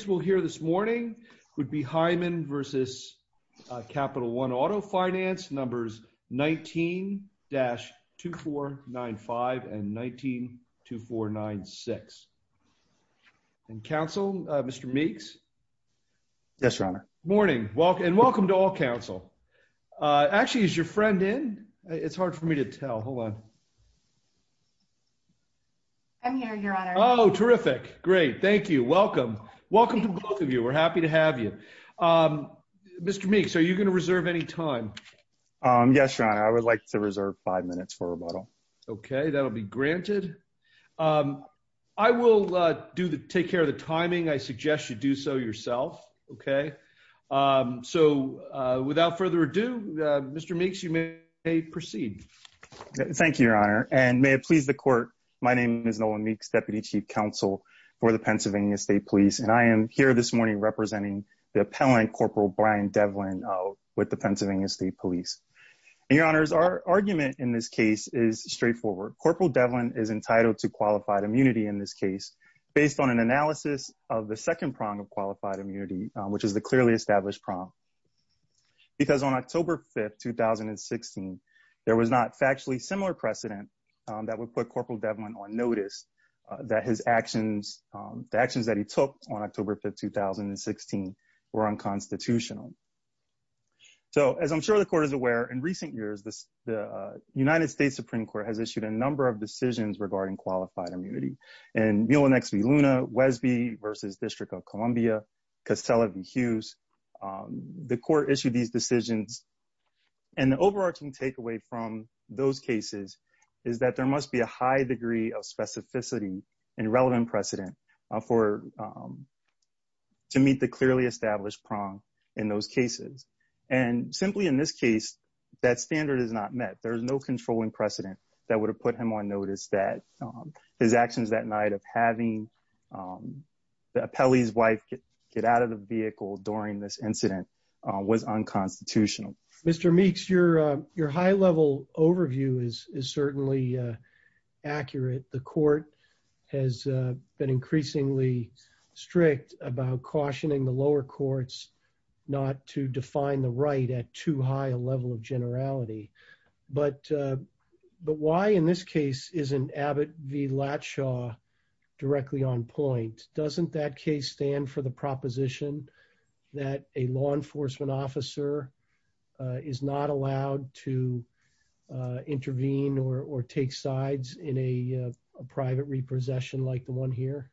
19-2495 and 19-2496. And Council, Mr. Meeks? Yes, Your Honor. Morning, and welcome to all, Council. Actually, is your friend in? It's hard for me to tell. Hold on. I'm here, Your Honor. Oh, terrific. Great. Thank you. Welcome. Welcome to both of you. We're happy to have you. Mr. Meeks, are you going to reserve any time? Yes, Your Honor. I would like to reserve five minutes for rebuttal. Okay, that'll be granted. I will take care of the timing. I suggest you do so yourself, okay? So, without further ado, Mr. Meeks, you may proceed. Thank you, Your Honor, and may it please the Court, my name is Nolan Meeks, Deputy Chief Counsel for the Pennsylvania State Police, and I am here this morning representing the appellant, Corporal Brian Devlin, with the Pennsylvania State Police. Your Honors, our argument in this case is straightforward. Corporal Devlin is entitled to qualified immunity in this case based on an analysis of the second prong of qualified immunity, which is the clearly established prong, because on October 5, 2016, there was not factually similar precedent that would put Corporal Devlin on notice that the actions that he took on October 5, 2016, were unconstitutional. So, as I'm sure the Court is aware, in recent years, the United States Supreme Court has issued a number of decisions regarding qualified immunity. In Muellen X. V. Luna, Wesby v. District of Columbia, Casella v. Hughes, the Court issued these decisions, and the overarching takeaway from those cases is that there must be a high degree of specificity and relevant precedent for, to meet the clearly established prong in those cases, and simply in this case, that standard is not met. There is no controlling precedent that would have put him on notice that his actions that night of having the appellee's wife get out of the vehicle during this incident was unconstitutional. Mr. Meeks, your high-level overview is certainly accurate. The Court has been increasingly strict about cautioning the lower courts not to define the right at too high a level of generality. But why, in this case, isn't Abbott v. Latshaw directly on point? Doesn't that case stand for the proposition that a law enforcement officer is not allowed to intervene or take sides in a private repossession like the one here?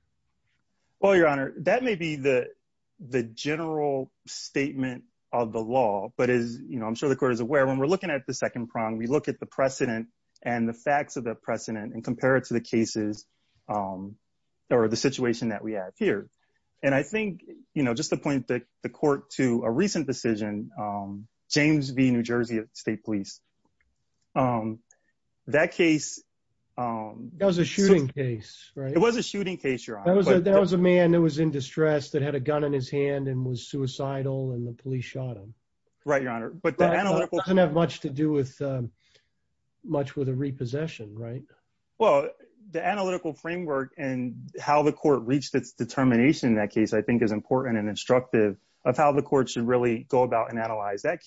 Well, your honor, that may be the general statement of the law, but as, you know, I'm sure the Court is aware, when we're looking at the second prong, we look at the precedent and the facts of the precedent and compare it to the cases or the situation that we have here. And I think, you know, just to point the Court to a recent decision, James v. New Jersey State Police, um, that case, um, That was a shooting case, right? It was a shooting case, your honor. There was a man that was in distress that had a gun in his hand and was suicidal and the police shot him. Right, your honor. But that doesn't have much to do with, um, much with a repossession, right? Well, the analytical framework and how the Court reached its determination in that case, I think is important and instructive of how the Court should really go about and analyze that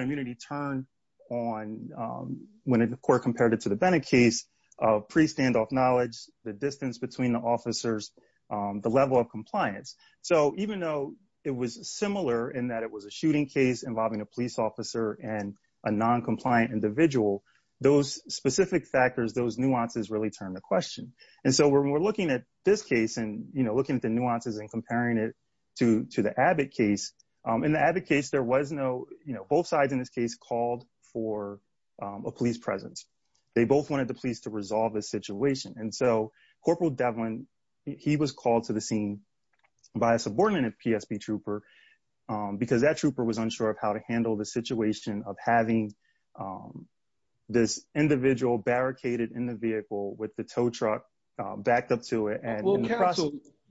immunity turn on, um, when the Court compared it to the Bennett case of pre-standoff knowledge, the distance between the officers, um, the level of compliance. So even though it was similar in that it was a shooting case involving a police officer and a non-compliant individual, those specific factors, those nuances really turn the question. And so when we're looking at this case and, you know, looking at the nuances and comparing it to the Abbott case, um, in the Abbott case, there was no, you know, both sides in this case called for, um, a police presence. They both wanted the police to resolve this situation. And so Corporal Devlin, he was called to the scene by a subordinate PSB trooper, um, because that trooper was unsure of how to handle the situation of having, um, this individual barricaded in the vehicle with the tow truck, um, backed up to it.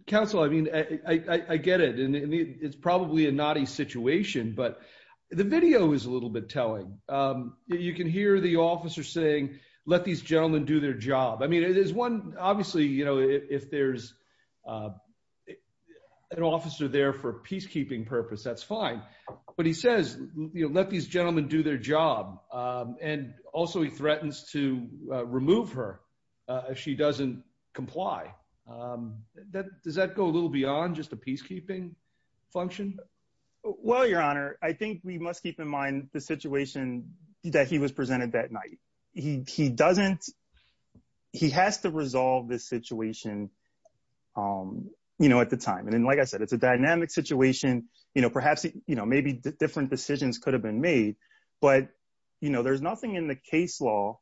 Counsel, I mean, I, I get it and it's probably a naughty situation, but the video is a little bit telling. Um, you can hear the officer saying, let these gentlemen do their job. I mean, it is one, obviously, you know, if there's, uh, an officer there for peacekeeping purpose, that's fine. But he says, you know, let these gentlemen do their job. Um, and also he threatens to remove her, uh, if she doesn't comply. Um, that, does that go a little beyond just a peacekeeping function? Well, your honor, I think we must keep in mind the situation that he was presented that night. He, he doesn't, he has to resolve this situation, um, you know, at the time. And then, like I said, it's a dynamic situation, you know, perhaps, you know, maybe different decisions could have been made, but you know, there's nothing in the case law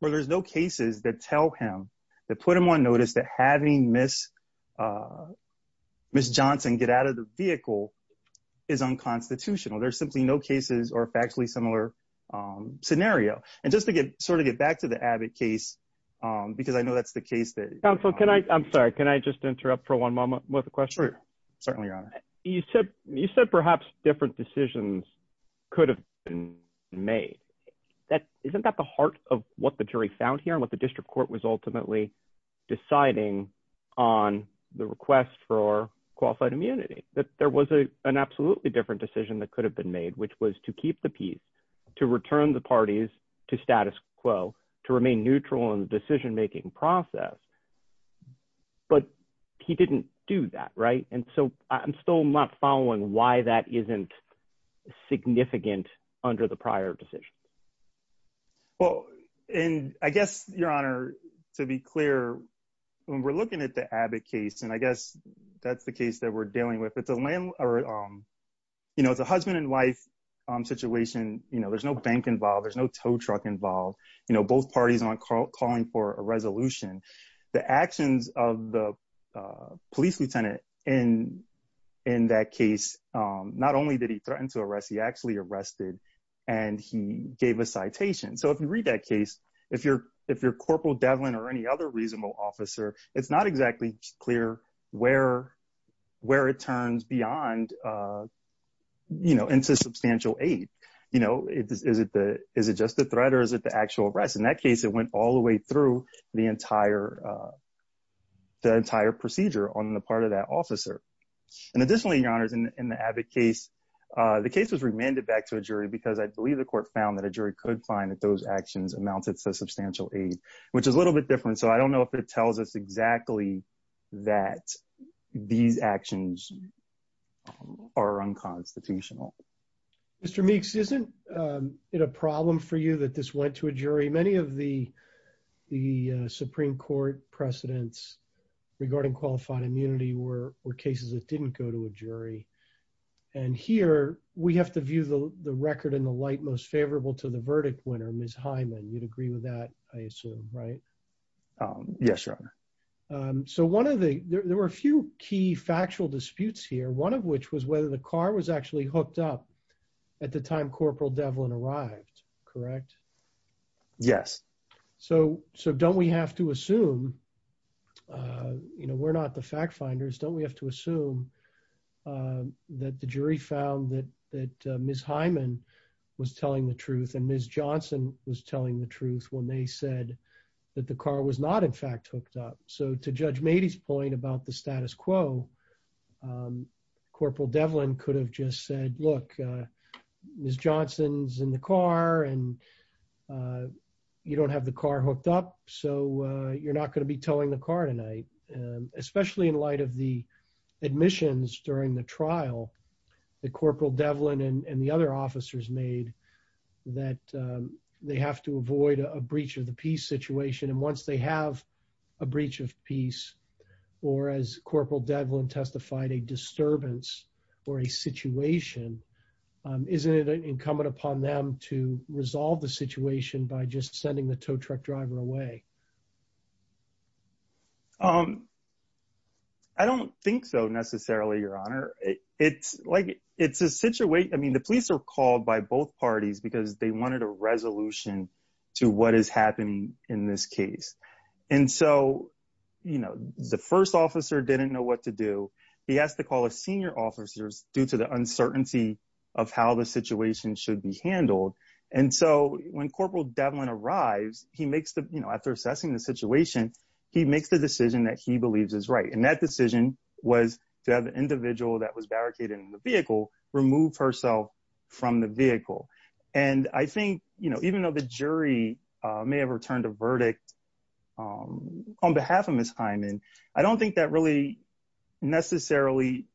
where there's no cases that tell him to put him on notice that having miss, uh, miss Johnson get out of the vehicle is unconstitutional. There's simply no cases or factually similar, um, scenario. And just to get, sort of get back to the Abbott case, um, because I know that's the case that- Counsel, can I, I'm sorry, can I just interrupt for one moment with a question? Sure. Certainly, your honor. You said, you said perhaps different decisions could have been made. That, isn't that the heart of what the jury found here and what the district court was ultimately deciding on the request for qualified immunity, that there was a, an absolutely different decision that could have been made, which was to keep the peace, to return the parties to status quo, to remain neutral in the decision-making process. But he didn't do that, right? And so I'm still not following why that isn't significant under the prior decision. Well, and I guess your honor, to be clear, when we're looking at the Abbott case, and I guess that's the case that we're dealing with, it's a land or, um, you know, it's a husband and wife, um, situation, you know, there's no bank involved, there's no tow truck involved, you know, both parties aren't calling for a resolution. The actions of the, uh, police lieutenant in, in that case, um, not only did he threaten to arrest, he actually arrested and he gave a citation. So if you read that case, if you're, if you're Corporal Devlin or any other reasonable officer, it's not exactly clear where, where it turns beyond, uh, you know, into substantial aid. You know, is it the, is it just the threat or is it the actual arrest? In that case, it went all the way through the entire, uh, the entire procedure on the part of that officer. And additionally, your honors, in the Abbott case, uh, the case was remanded back to a jury because I believe the court found that a jury could find that those actions amounted to substantial aid, which is a little bit different. So I don't know if it tells us exactly that these actions are unconstitutional. Mr. Meeks, isn't, um, it a problem for you that this went to a jury? Many of the, the, uh, Supreme Court precedents regarding qualified immunity were, were cases that didn't go to a jury. And here we have to view the record in the light, most favorable to the verdict winner, Ms. Hyman. You'd agree with that, I assume, right? Um, yes, your honor. Um, so one of the, there were a few key factual disputes here. One of which was whether the car was actually hooked up at the time Corporal Devlin arrived, correct? Yes. So, so don't we have to assume, uh, you know, we're not the fact finders. Don't we have to assume, um, that the jury found that, that, uh, Ms. Hyman was telling the truth and Ms. Johnson was telling the truth when they said that the car was not in fact hooked up. So to Judge Mady's point about the status quo, um, Corporal Devlin could have just said, look, uh, Ms. Johnson's in the car and, uh, you don't have the car hooked up. So, uh, you're not going to be towing the car tonight. Um, especially in light of the admissions during the trial that Corporal they have to avoid a breach of the peace situation. And once they have a breach of peace or as Corporal Devlin testified, a disturbance or a situation, um, isn't it incumbent upon them to resolve the situation by just sending the tow truck driver away? Um, I don't think so necessarily, your honor. It's like, it's a situation. I mean, police are called by both parties because they wanted a resolution to what is happening in this case. And so, you know, the first officer didn't know what to do. He has to call a senior officers due to the uncertainty of how the situation should be handled. And so when Corporal Devlin arrives, he makes the, you know, after assessing the situation, he makes the decision that he believes is right. And that decision was to have the individual that was barricaded in the vehicle remove herself from the vehicle. And I think, you know, even though the jury may have returned a verdict, um, on behalf of Ms. Hyman, I don't think that really necessarily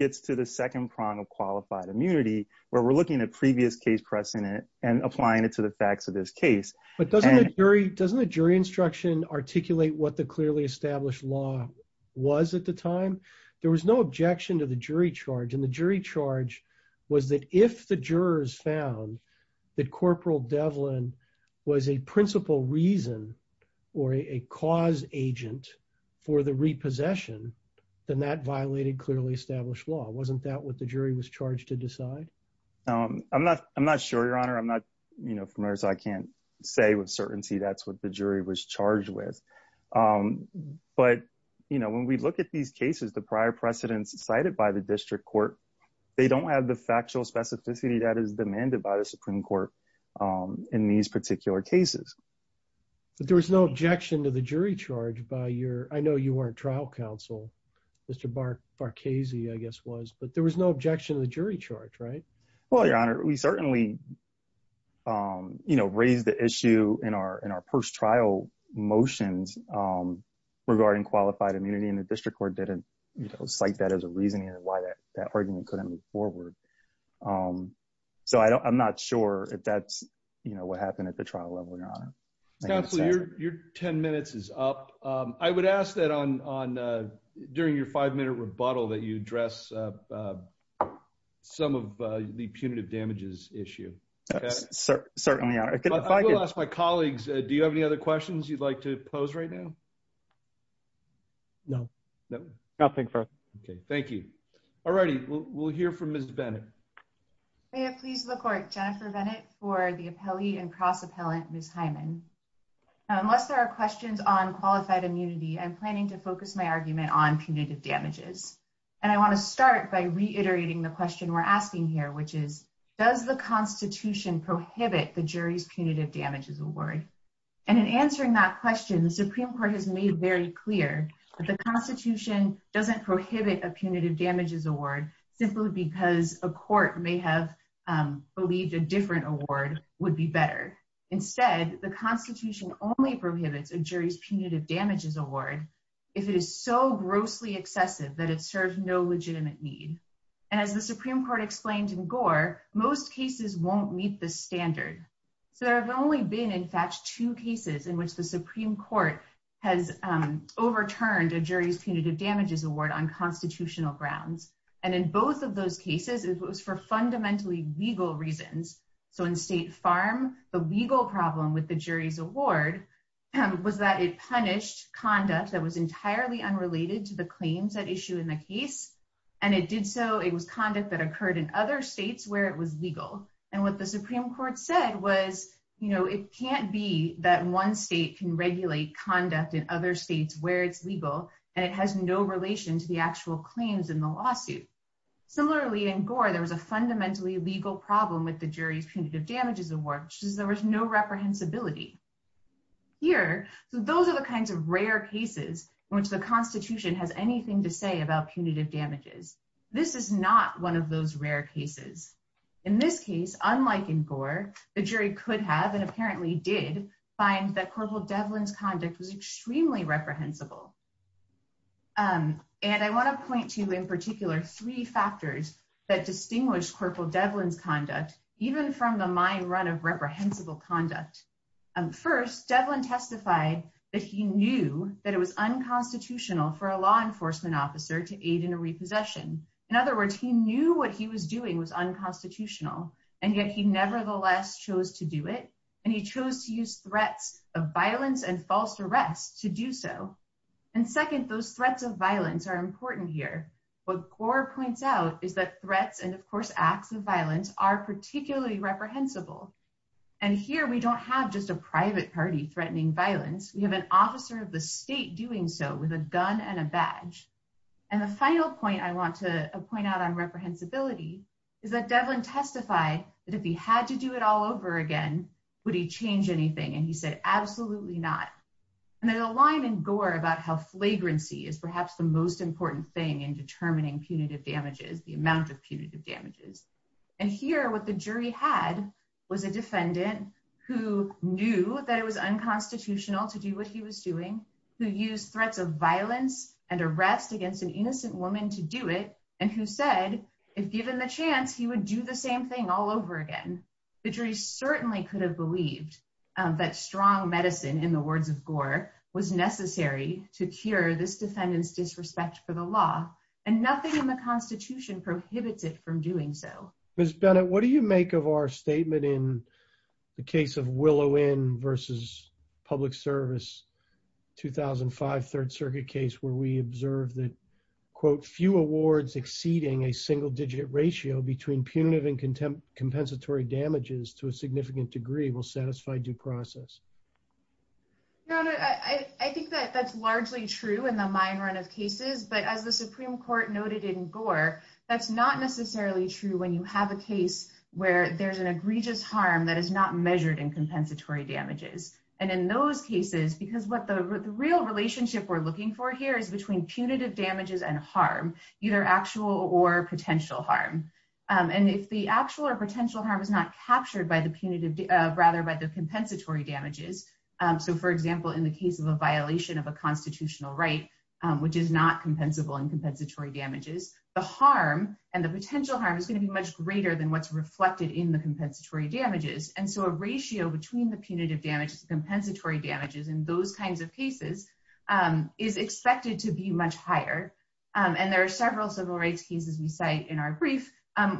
gets to the second prong of qualified immunity where we're looking at previous case precedent and applying it to the facts of this case. But doesn't the jury, doesn't the jury instruction articulate what the clearly that if the jurors found that Corporal Devlin was a principal reason or a cause agent for the repossession, then that violated clearly established law. Wasn't that what the jury was charged to decide? Um, I'm not, I'm not sure your honor. I'm not, you know, familiar. So I can't say with certainty, that's what the jury was charged with. Um, but you know, when we look at these cases, the prior precedents cited by the district court, they don't have the factual specificity that is demanded by the Supreme Court, um, in these particular cases. But there was no objection to the jury charge by your, I know you weren't trial counsel, Mr. Bar, Bar Casey, I guess was, but there was no objection to the jury charge, right? Well, your honor, we certainly, um, you know, raise the issue in our, in our first trial motions, um, regarding qualified immunity and the district court didn't, you know, cite that as a reason why that argument couldn't move forward. Um, so I don't, I'm not sure if that's, you know, what happened at the trial level. Counselor, your, your 10 minutes is up. Um, I would ask that on, on, uh, during your five minute rebuttal that you address, uh, uh, some of, uh, the punitive damages issue. Certainly. I will ask my colleagues. Do you have any other questions you'd like to pose right now? No, nothing. Okay. Thank you. All right. We'll, we'll hear from Ms. Bennett. Please look for it. Jennifer Bennett for the appellee and cross appellant. Ms. Hyman, unless there are questions on qualified immunity, I'm planning to focus my argument on punitive damages. And I want to start by reiterating the question we're asking here, which is, does the constitution prohibit the jury's punitive damages award? And in answering that question, the Supreme court has made very clear that the constitution doesn't prohibit a punitive damages award simply because a court may have, um, believed a different award would be better. Instead, the constitution only prohibits a jury's punitive damages award. If it is so grossly excessive that it serves no legitimate need. And as the Supreme court explained in Gore, most cases won't meet the standard. So there have only been in fact, two cases in which the Supreme court has, um, overturned a jury's punitive damages award on constitutional grounds. And in both of those cases, it was for fundamentally legal reasons. So in state farm, the legal problem with the jury's award was that it punished conduct that was entirely unrelated to the claims that issue in the case. And it did. So it was conduct that occurred in other States where it was legal. And what the Supreme court said was, you know, it can't be that one state can regulate conduct in other States where it's legal. And it has no relation to the actual claims in the lawsuit. Similarly in Gore, there was a fundamentally legal problem with the jury's punitive damages award, which is there was no reprehensibility here. So those are the kinds of rare cases in which the constitution has anything to say about punitive damages. This is not one of those rare cases. In this case, unlike in Gore, the jury could have, and apparently did find that corporal Devlin's conduct was extremely reprehensible. Um, and I want to point to in particular three factors that distinguished corporal Devlin's conduct, even from the mind run of reprehensible conduct. Um, first Devlin testified that he knew that it was unconstitutional for a law enforcement officer to aid in a repossession. In other words, he knew what he was doing was unconstitutional. And yet he nevertheless chose to do it. And he chose to use threats of violence and false arrest to do so. And second, those threats of violence are important here. What Gore points out is that threats and of course, acts of violence are particularly reprehensible. And here we don't have just a private party threatening violence. We have an officer of the state doing so with a gun and a badge. And the final point I want to point out on reprehensibility is that Devlin testified that if he had to do it all over again, would he change anything? And he said, absolutely not. And there's a line in Gore about how flagrancy is perhaps the most important thing in determining punitive damages, the amount of punitive damages. And here, what the jury had was a defendant who knew that it was unconstitutional to do what he was doing, who used threats of violence and arrest against an innocent woman to do it. And who said, if given the chance, he would do the same thing all over again. The jury certainly could have believed that strong medicine in the words of Gore was necessary to cure this defendant's disrespect for the law. And nothing in the Constitution prohibits it from doing so. Ms. Bennett, what do you make of our statement in the case of Willow Inn versus Public Service, 2005 Third Circuit case, where we observed that, quote, few awards exceeding a single digit ratio between punitive and compensatory damages to a significant degree will satisfy due process? I think that that's largely true in the mine run of cases. But as the Supreme Court noted in Gore, that's not necessarily true when you have a case where there's an egregious harm that is not measured in compensatory damages. And in those cases, because what the real relationship we're looking for here is between punitive damages and harm, either actual or potential harm. And if the actual or potential harm is not captured by the punitive, rather by the compensatory damages, so for example, in the case of a violation of a constitutional right, which is not compensable in compensatory damages, the harm and the potential harm is going to be much greater than what's reflected in the compensatory damages. And so a ratio between the punitive damages and compensatory damages in those kinds of cases is expected to be much higher. And there are several civil rights cases we cite in our brief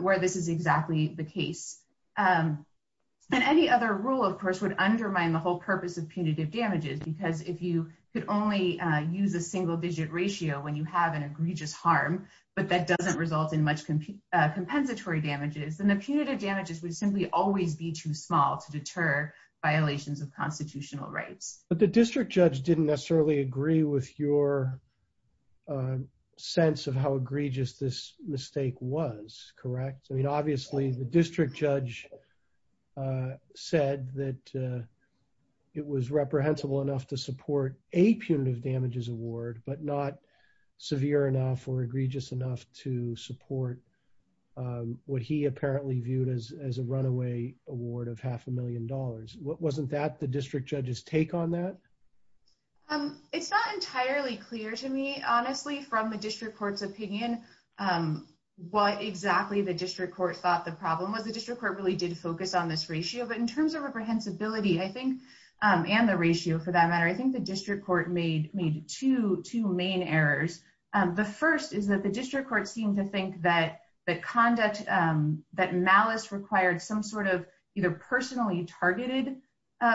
where this is exactly the case. And any other rule, of course, would undermine the whole purpose of punitive damages. Because if you could only use a single digit ratio when you have an egregious harm, but that doesn't result in much compensatory damages, then the punitive damages would simply always be too small to deter violations of constitutional rights. But the district judge didn't necessarily agree with your sense of how egregious this mistake was, correct? I mean, obviously, the district judge said that it was reprehensible enough to support a punitive damages award, but not severe enough or egregious enough to support what he apparently viewed as a runaway award of half a million dollars. Wasn't that the district judge's take on that? It's not entirely clear to me, honestly, from the district court's opinion, what exactly the district court thought the problem was. The district court really did focus on this ratio. But in terms of reprehensibility, I think, and the ratio, for that matter, I think the district court made two main errors. The first is that the district court seemed to think that conduct, that malice required some sort of either personally targeted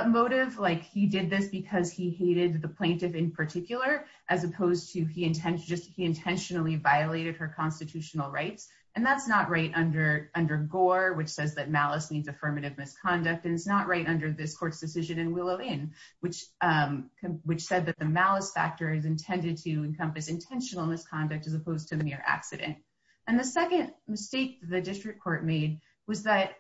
motive, like he did this because he hated the plaintiff in particular, as opposed to he intentionally violated her constitutional rights. And that's not right under Gore, which says that malice means affirmative misconduct. And it's not right under this court's decision in Willow Inn, which said that the malice factor is intended to encompass intentional misconduct as opposed to the mere accident. And the second mistake the district court made was that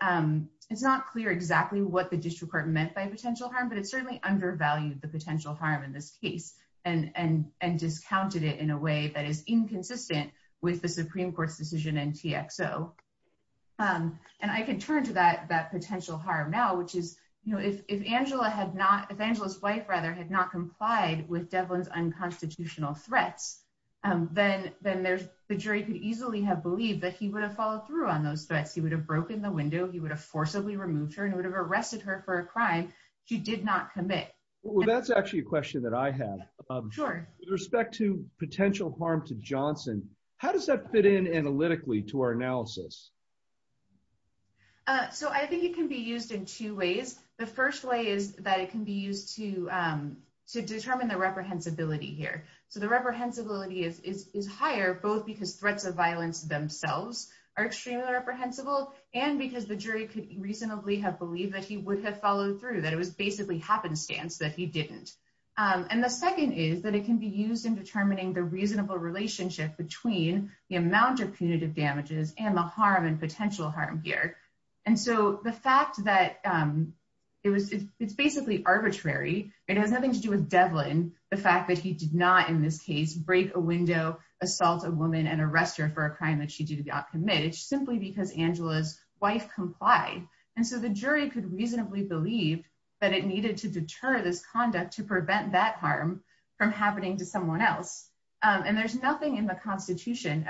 it's not clear exactly what the district court meant by potential harm, but it certainly undervalued the potential harm in this case and discounted it in a way that is inconsistent with the Supreme Court's decision in TXO. And I can turn to that potential harm now, which is if Angela's wife had not complied with Devlin's unconstitutional threats, then the jury could easily have believed that he would have followed through on those threats. He would have broken the window. He would have forcibly removed her and would have arrested her for a crime she did not commit. Well, that's actually a question that I have. With respect to potential harm to Johnson, how does that fit in analytically to our analysis? So I think it can be used in two ways. The first way is that it can be used to determine the reprehensibility here. So the reprehensibility is higher both because threats of violence themselves are extremely reprehensible and because the jury could reasonably have believed that he would have that it can be used in determining the reasonable relationship between the amount of punitive damages and the harm and potential harm here. And so the fact that it's basically arbitrary, it has nothing to do with Devlin, the fact that he did not in this case break a window, assault a woman, and arrest her for a crime that she did not commit. It's simply because Angela's wife complied. And so the jury could reasonably believe that it needed to deter this conduct to happen to someone else. And there's nothing in the Constitution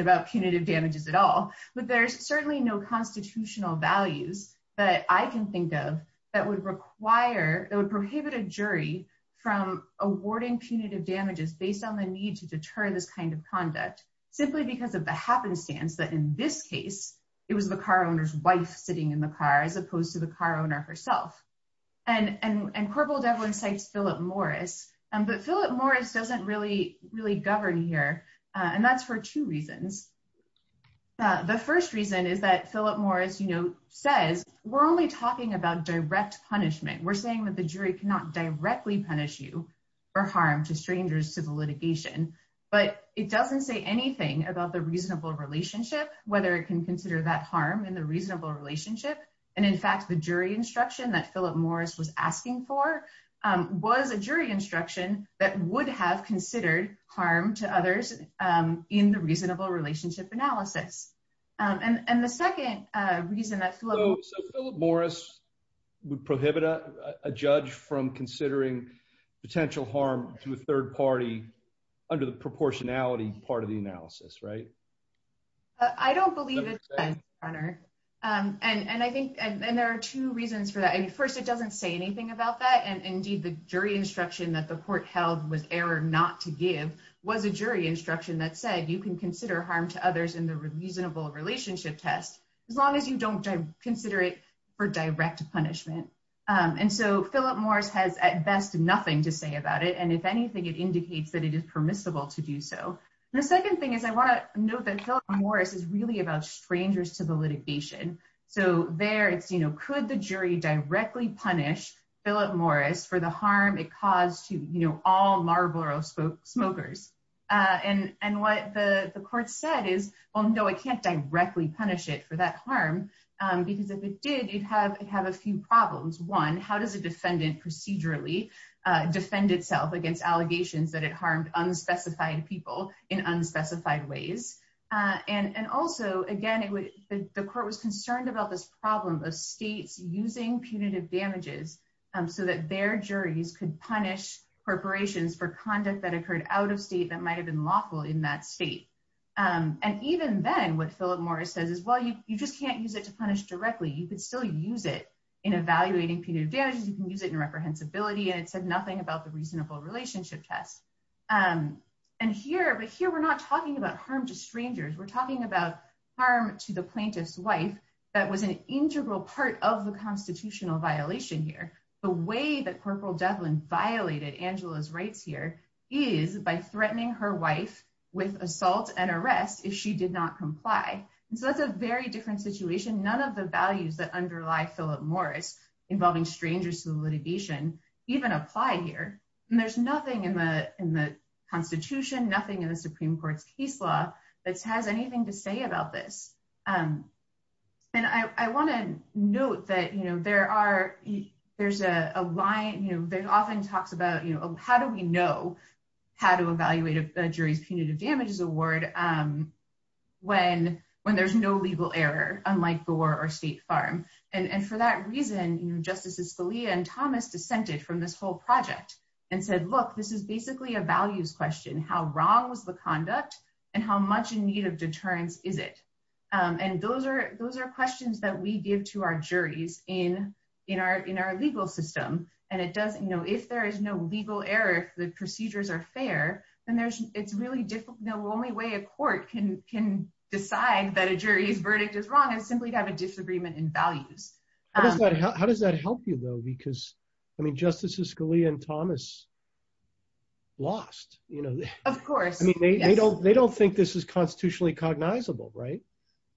about punitive damages at all, but there's certainly no constitutional values that I can think of that would require, that would prohibit a jury from awarding punitive damages based on the need to deter this kind of conduct simply because of the happenstance that in this case, it was the car owner's wife sitting in the car as opposed to the car owner herself. And Corporal Devlin cites Philip Morris, but Philip Morris doesn't really govern here. And that's for two reasons. The first reason is that Philip Morris says, we're only talking about direct punishment. We're saying that the jury cannot directly punish you for harm to strangers to the litigation, but it doesn't say anything about the reasonable relationship, whether it can consider that harm in the reasonable relationship. And in fact, the jury instruction that Philip Morris was asking for was a jury instruction that would have considered harm to others in the reasonable relationship analysis. And the second reason that Philip Morris would prohibit a judge from considering potential harm to a third party under the proportionality part of the analysis, right? I don't believe it, and there are two reasons for that. I mean, first, it doesn't say anything about that. And indeed, the jury instruction that the court held was error not to give was a jury instruction that said you can consider harm to others in the reasonable relationship test, as long as you don't consider it for direct punishment. And so Philip Morris has at best nothing to say about it. And if anything, it indicates that it is permissible to do so. The second thing is I want to note that Philip Morris is really about strangers to the litigation. So there it's, you know, could the jury directly punish Philip Morris for the harm it caused to, you know, all Marlboro smokers? And what the court said is, well, no, I can't directly punish it for that harm, because if it did, it'd have a few problems. One, how does a defendant procedurally defend itself against allegations that it harmed unspecified people in unspecified ways? And also, again, the court was concerned about this problem of states using punitive damages so that their juries could punish corporations for conduct that occurred out of state that might have been lawful in that state. And even then, what Philip Morris says is, well, you just can't use it to punish directly. You could still use it in evaluating punitive damages. You can use it in reprehensibility. And it said nothing about the reasonable relationship test. And here, but here we're not talking about harm to strangers. We're talking about harm to the plaintiff's wife. That was an integral part of the constitutional violation here. The way that Corporal Devlin violated Angela's rights here is by threatening her wife with assault and arrest if she did not comply. And so that's a very different situation. None of the values that underlie Philip Morris, involving strangers to the litigation, even apply here. And there's nothing in the Constitution, nothing in the Supreme Court's case law that has anything to say about this. And I want to note that there's a line that often talks about, how do we know how to evaluate a jury's punitive damages award when there's no legal error, unlike Gore or State Farm? And for that reason, Justices Scalia and Thomas dissented from this whole project and said, look, this is basically a values question. How wrong was the conduct and how much in need of deterrence is it? And those are questions that we give to our juries in our legal system. And if there is no legal error, if the procedures are fair, then it's really difficult. The only way a court can decide that a jury's verdict is wrong is simply to have a disagreement in values. How does that help you though? Because I mean, Justices Scalia and Thomas lost. Of course. I mean, they don't think this is constitutionally cognizable, right?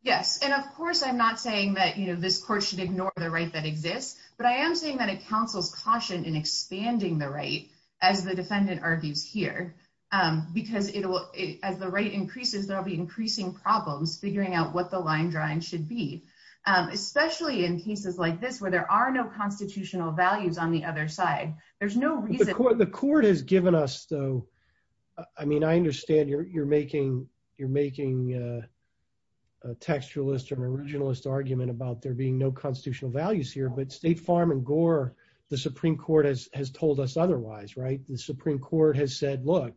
Yes. And of course, I'm not saying that this court should ignore the right that exists, but I am saying that it counsels caution in expanding the right, as the defendant argues here, because as the right increases, there'll be increasing problems figuring out what the line drawing should be. Especially in cases like this, where there are no constitutional values on the other side. There's no reason. The court has given us though. I mean, I understand you're making you're making a textualist or an originalist argument about there being no constitutional values here, but State Farm and Gore, the Supreme Court has told us otherwise, right? The Supreme Court has said, look,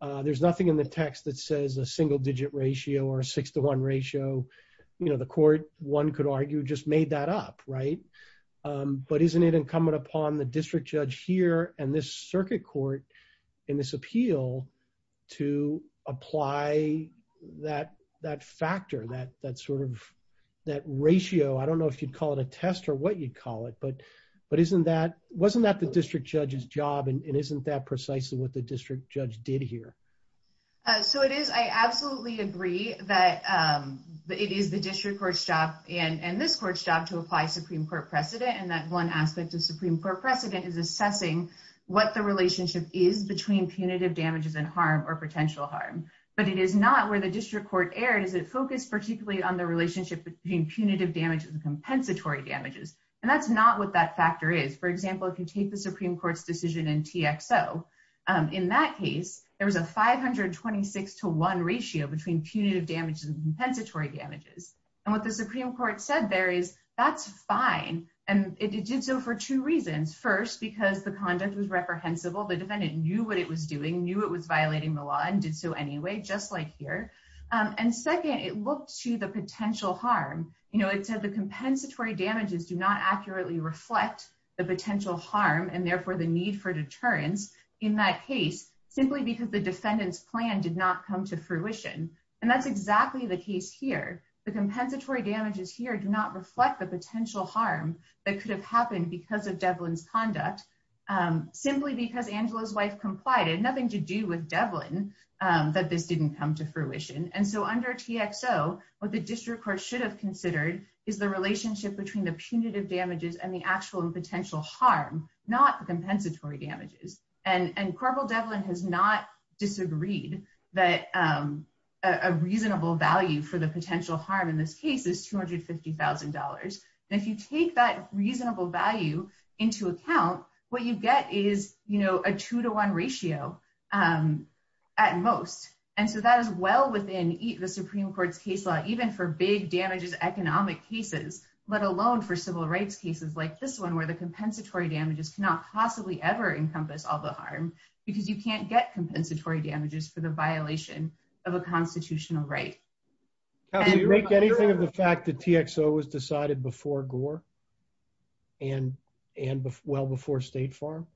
there's nothing in the text that says a single digit ratio or a six to one ratio. You know, the court, one could argue, just made that up, right? But isn't it incumbent upon the district judge here and this circuit court in this appeal to apply that factor, that sort of that ratio? I don't know if you'd call it a test or what you'd call it, but isn't that wasn't that the district judge's job? And isn't that precisely what the district judge did here? So it is. I absolutely agree that it is the district court's job and this court's job to apply Supreme Court precedent. And that one aspect of Supreme Court precedent is assessing what the relationship is between punitive damages and harm or potential harm. But it is not where the district court erred. Is it focused particularly on the relationship between punitive damages and compensatory damages? And that's not what that factor is. For example, if you take the Supreme Court's decision in TXO, in that case, there was a 526 to one ratio between punitive damages and compensatory damages. And what the Supreme Court said there is that's fine. And it did so for two reasons. First, because the conduct was reprehensible. The defendant knew what it was doing, knew it was violating the law and did so anyway, just like here. And second, it looked to the potential harm. You know, it said the compensatory damages do not accurately reflect the potential harm and therefore the need for deterrence in that case, simply because the defendant's plan did not come to fruition. And that's exactly the case here. The compensatory damages here do not reflect the potential harm that could have happened because of Devlin's conduct, simply because Angela's wife complied. It had nothing to do with Devlin that this didn't come to fruition. And so under TXO, what the district court should have considered is the relationship between the punitive damages and the actual and potential harm, not the compensatory damages. And Corporal Devlin has not disagreed that a reasonable value for the potential harm in this case is $250,000. And if you take that reasonable value into account, what you get is, you know, a two to one ratio at most. And so that is well within the Supreme Court's case law, even for big economic cases, let alone for civil rights cases like this one, where the compensatory damages cannot possibly ever encompass all the harm, because you can't get compensatory damages for the violation of a constitutional right. And make anything of the fact that TXO was decided before Gore and well before State Farm?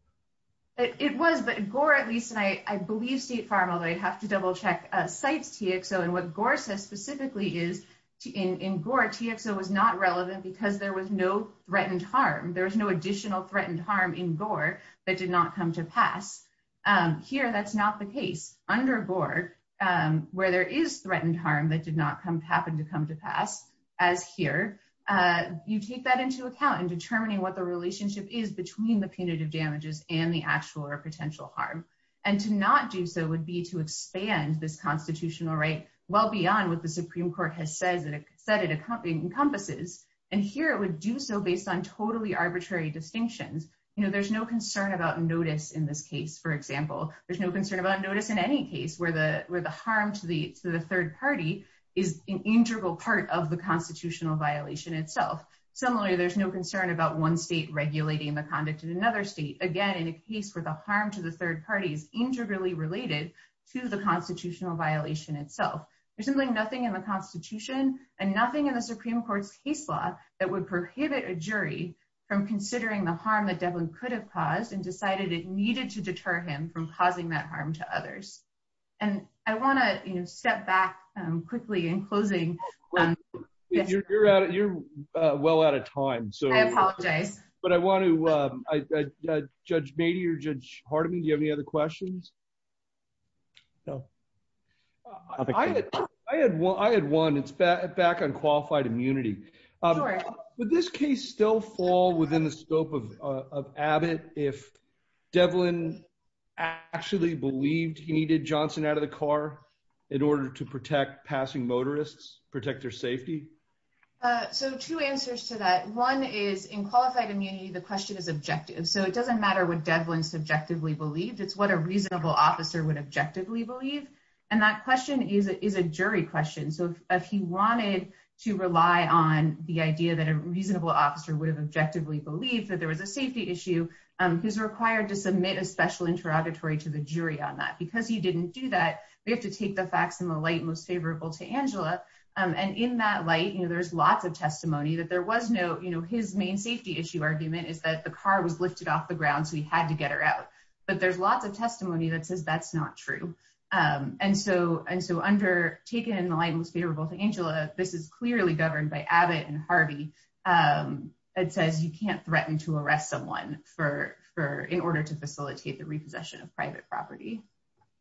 It was, but Gore at least, and I believe State Farm, although I'd double check, cites TXO. And what Gore says specifically is in Gore, TXO was not relevant because there was no threatened harm. There was no additional threatened harm in Gore that did not come to pass. Here, that's not the case. Under Gore, where there is threatened harm that did not happen to come to pass, as here, you take that into account in determining what the relationship is between the punitive damages and the actual or potential harm. And to not do so would be to expand this constitutional right well beyond what the Supreme Court has said it encompasses. And here, it would do so based on totally arbitrary distinctions. There's no concern about notice in this case, for example. There's no concern about notice in any case where the harm to the third party is an integral part of the constitutional violation itself. Similarly, there's no concern about one state regulating the conduct in another state. Again, in a case where the harm to the third party is integrally related to the constitutional violation itself. There's simply nothing in the Constitution and nothing in the Supreme Court's case law that would prohibit a jury from considering the harm that Devlin could have caused and decided it needed to deter him from causing that harm to others. And I want to step back quickly in closing. You're out. You're well out of time. So I apologize. But I want to Judge Mady or Judge Hardiman, do you have any other questions? No. I had one. It's back on qualified immunity. Would this case still fall within the scope of Abbott if Devlin actually believed he needed Johnson out of the car in order to protect passing motorists, protect their safety? So two answers to that. One is in qualified immunity, the question is objective. So it doesn't matter what Devlin subjectively believed. It's what a reasonable officer would objectively believe. And that question is a jury question. So if he wanted to rely on the idea that a reasonable officer would have objectively believed that there was a safety issue, he's required to submit a special interrogatory to the jury on that. Because he And in that light, you know, there's lots of testimony that there was no, you know, his main safety issue argument is that the car was lifted off the ground. So he had to get her out. But there's lots of testimony that says that's not true. And so and so under taken in the light was favorable to Angela. This is clearly governed by Abbott and Harvey. It says you can't threaten to arrest someone for for in order to facilitate the repossession of private property.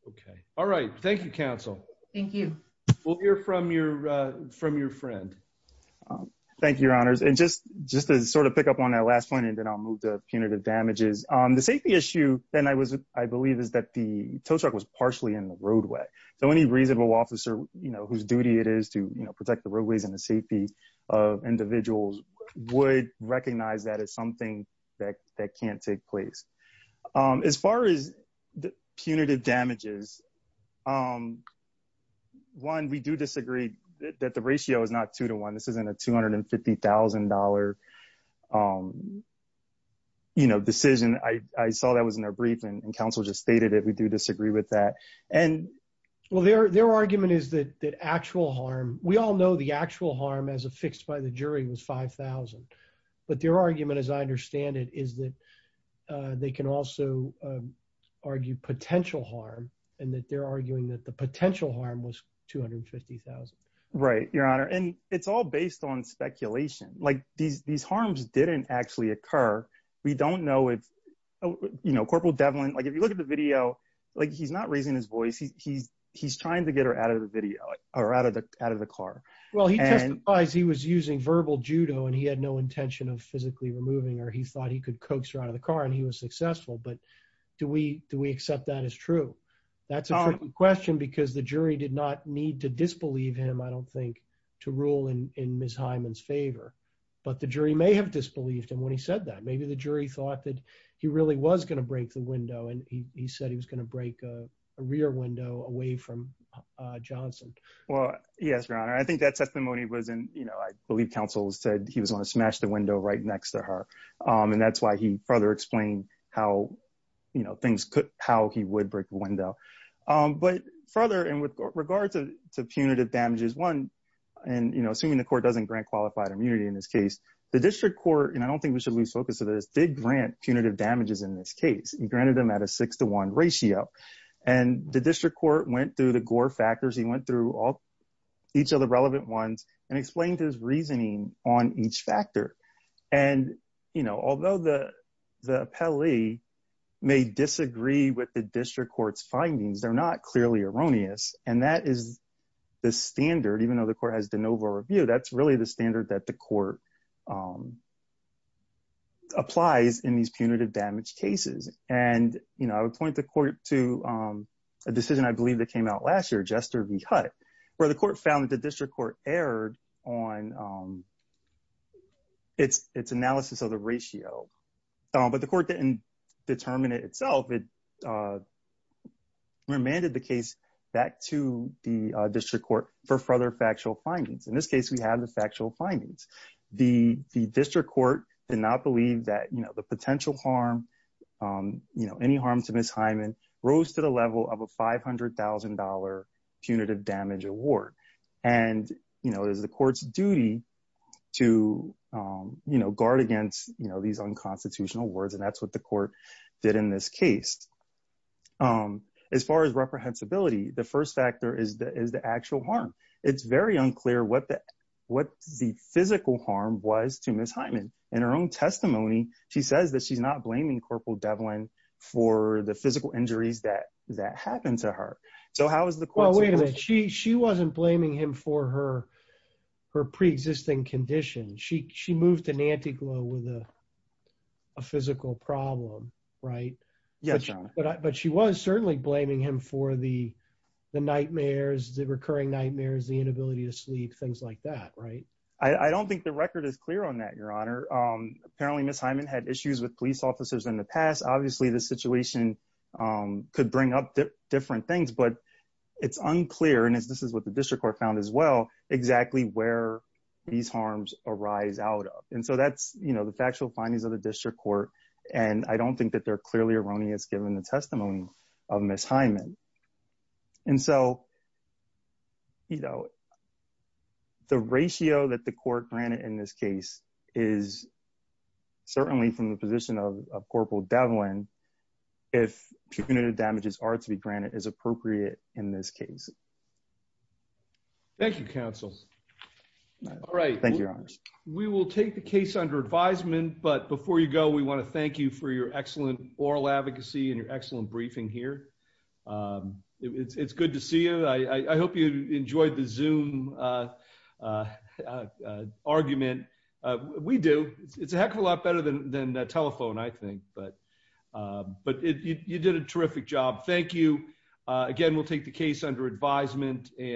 Okay. All right. Thank you, counsel. Thank you. We'll hear from your from your friend. Thank you, your honors. And just just to sort of pick up on that last point, and then I'll move to punitive damages on the safety issue. And I was, I believe is that the tow truck was partially in the roadway. So any reasonable officer, you know, whose duty it is to, you know, protect the roadways and the safety of individuals would recognize that as something that that can't take place. As far as the punitive damages, um, one, we do disagree that the ratio is not two to one, this isn't a $250,000. Um, you know, decision, I saw that was in a briefing, and counsel just stated that we do disagree with that. And, well, their their argument is that the actual harm, we all know the actual harm as a fixed by the jury was 5000. But their argument, as I understand it, is that they can also argue potential harm, and that they're arguing that the potential harm was 250,000. Right, your honor, and it's all based on speculation, like these, these harms didn't actually occur. We don't know if, you know, Corporal Devlin, like, if you look at the video, like he's not raising his voice, he's, he's, he's trying to get her out of the video, or out of the out of the car. Well, he was using verbal judo, and he had no intention of physically removing or he thought he could coax her out of the car, and he was successful. But do we do we accept that as true? That's a question, because the jury did not need to disbelieve him, I don't think to rule in Miss Hyman's favor. But the jury may have disbelieved him when he said that maybe the jury thought that he really was going to break the window. And he said he was going to break a rear window away from Johnson. Well, yes, your honor. I think that next to her. And that's why he further explained how, you know, things could how he would break the window. But further, and with regards to punitive damages, one, and, you know, assuming the court doesn't grant qualified immunity in this case, the district court, and I don't think we should lose focus of this did grant punitive damages in this case, he granted them at a six to one ratio. And the district court went through the Gore factors, he went through all each of the and, you know, although the, the Pele may disagree with the district court's findings, they're not clearly erroneous. And that is the standard, even though the court has de novo review, that's really the standard that the court applies in these punitive damage cases. And, you know, I would point the court to a decision I believe that came out last year, Jester v. It's, it's analysis of the ratio. But the court didn't determine it itself. It remanded the case back to the district court for further factual findings. In this case, we have the factual findings, the district court did not believe that, you know, the potential harm, you know, any harm to miss Hyman rose to the level of a $500,000 punitive damage award. And, you know, it is the court's duty to, you know, guard against, you know, these unconstitutional words. And that's what the court did in this case. As far as reprehensibility, the first factor is the is the actual harm. It's very unclear what the what the physical harm was to miss Hyman. In her own testimony, she says that she's not blaming Corporal Devlin for the physical injuries that that happened to her. So how is the she wasn't blaming him for her, her pre existing condition. She she moved to Nantico with a physical problem, right? Yeah. But she was certainly blaming him for the nightmares, the recurring nightmares, the inability to sleep, things like that, right? I don't think the record is clear on that, Your Honor. Apparently, Miss Hyman had issues with police officers in the past. Obviously, the situation could bring up different things. But it's unclear. And this is what the district court found as well exactly where these harms arise out of. And so that's, you know, the factual findings of the district court. And I don't think that they're clearly erroneous, given the testimony of Miss Hyman. And so, you know, the ratio that the court granted in this case is certainly from the position of Corporal Devlin, if punitive damages are to be granted as appropriate in this case. Thank you, counsel. All right. Thank you, Your Honor. We will take the case under advisement. But before you go, we want to thank you for your excellent oral advocacy and your excellent briefing here. It's good to see you. I hope you enjoyed the zoom argument. We do. It's a heck of a lot better than the telephone, I think but but you did a terrific job. Thank you. Again, we'll take the case under advisement and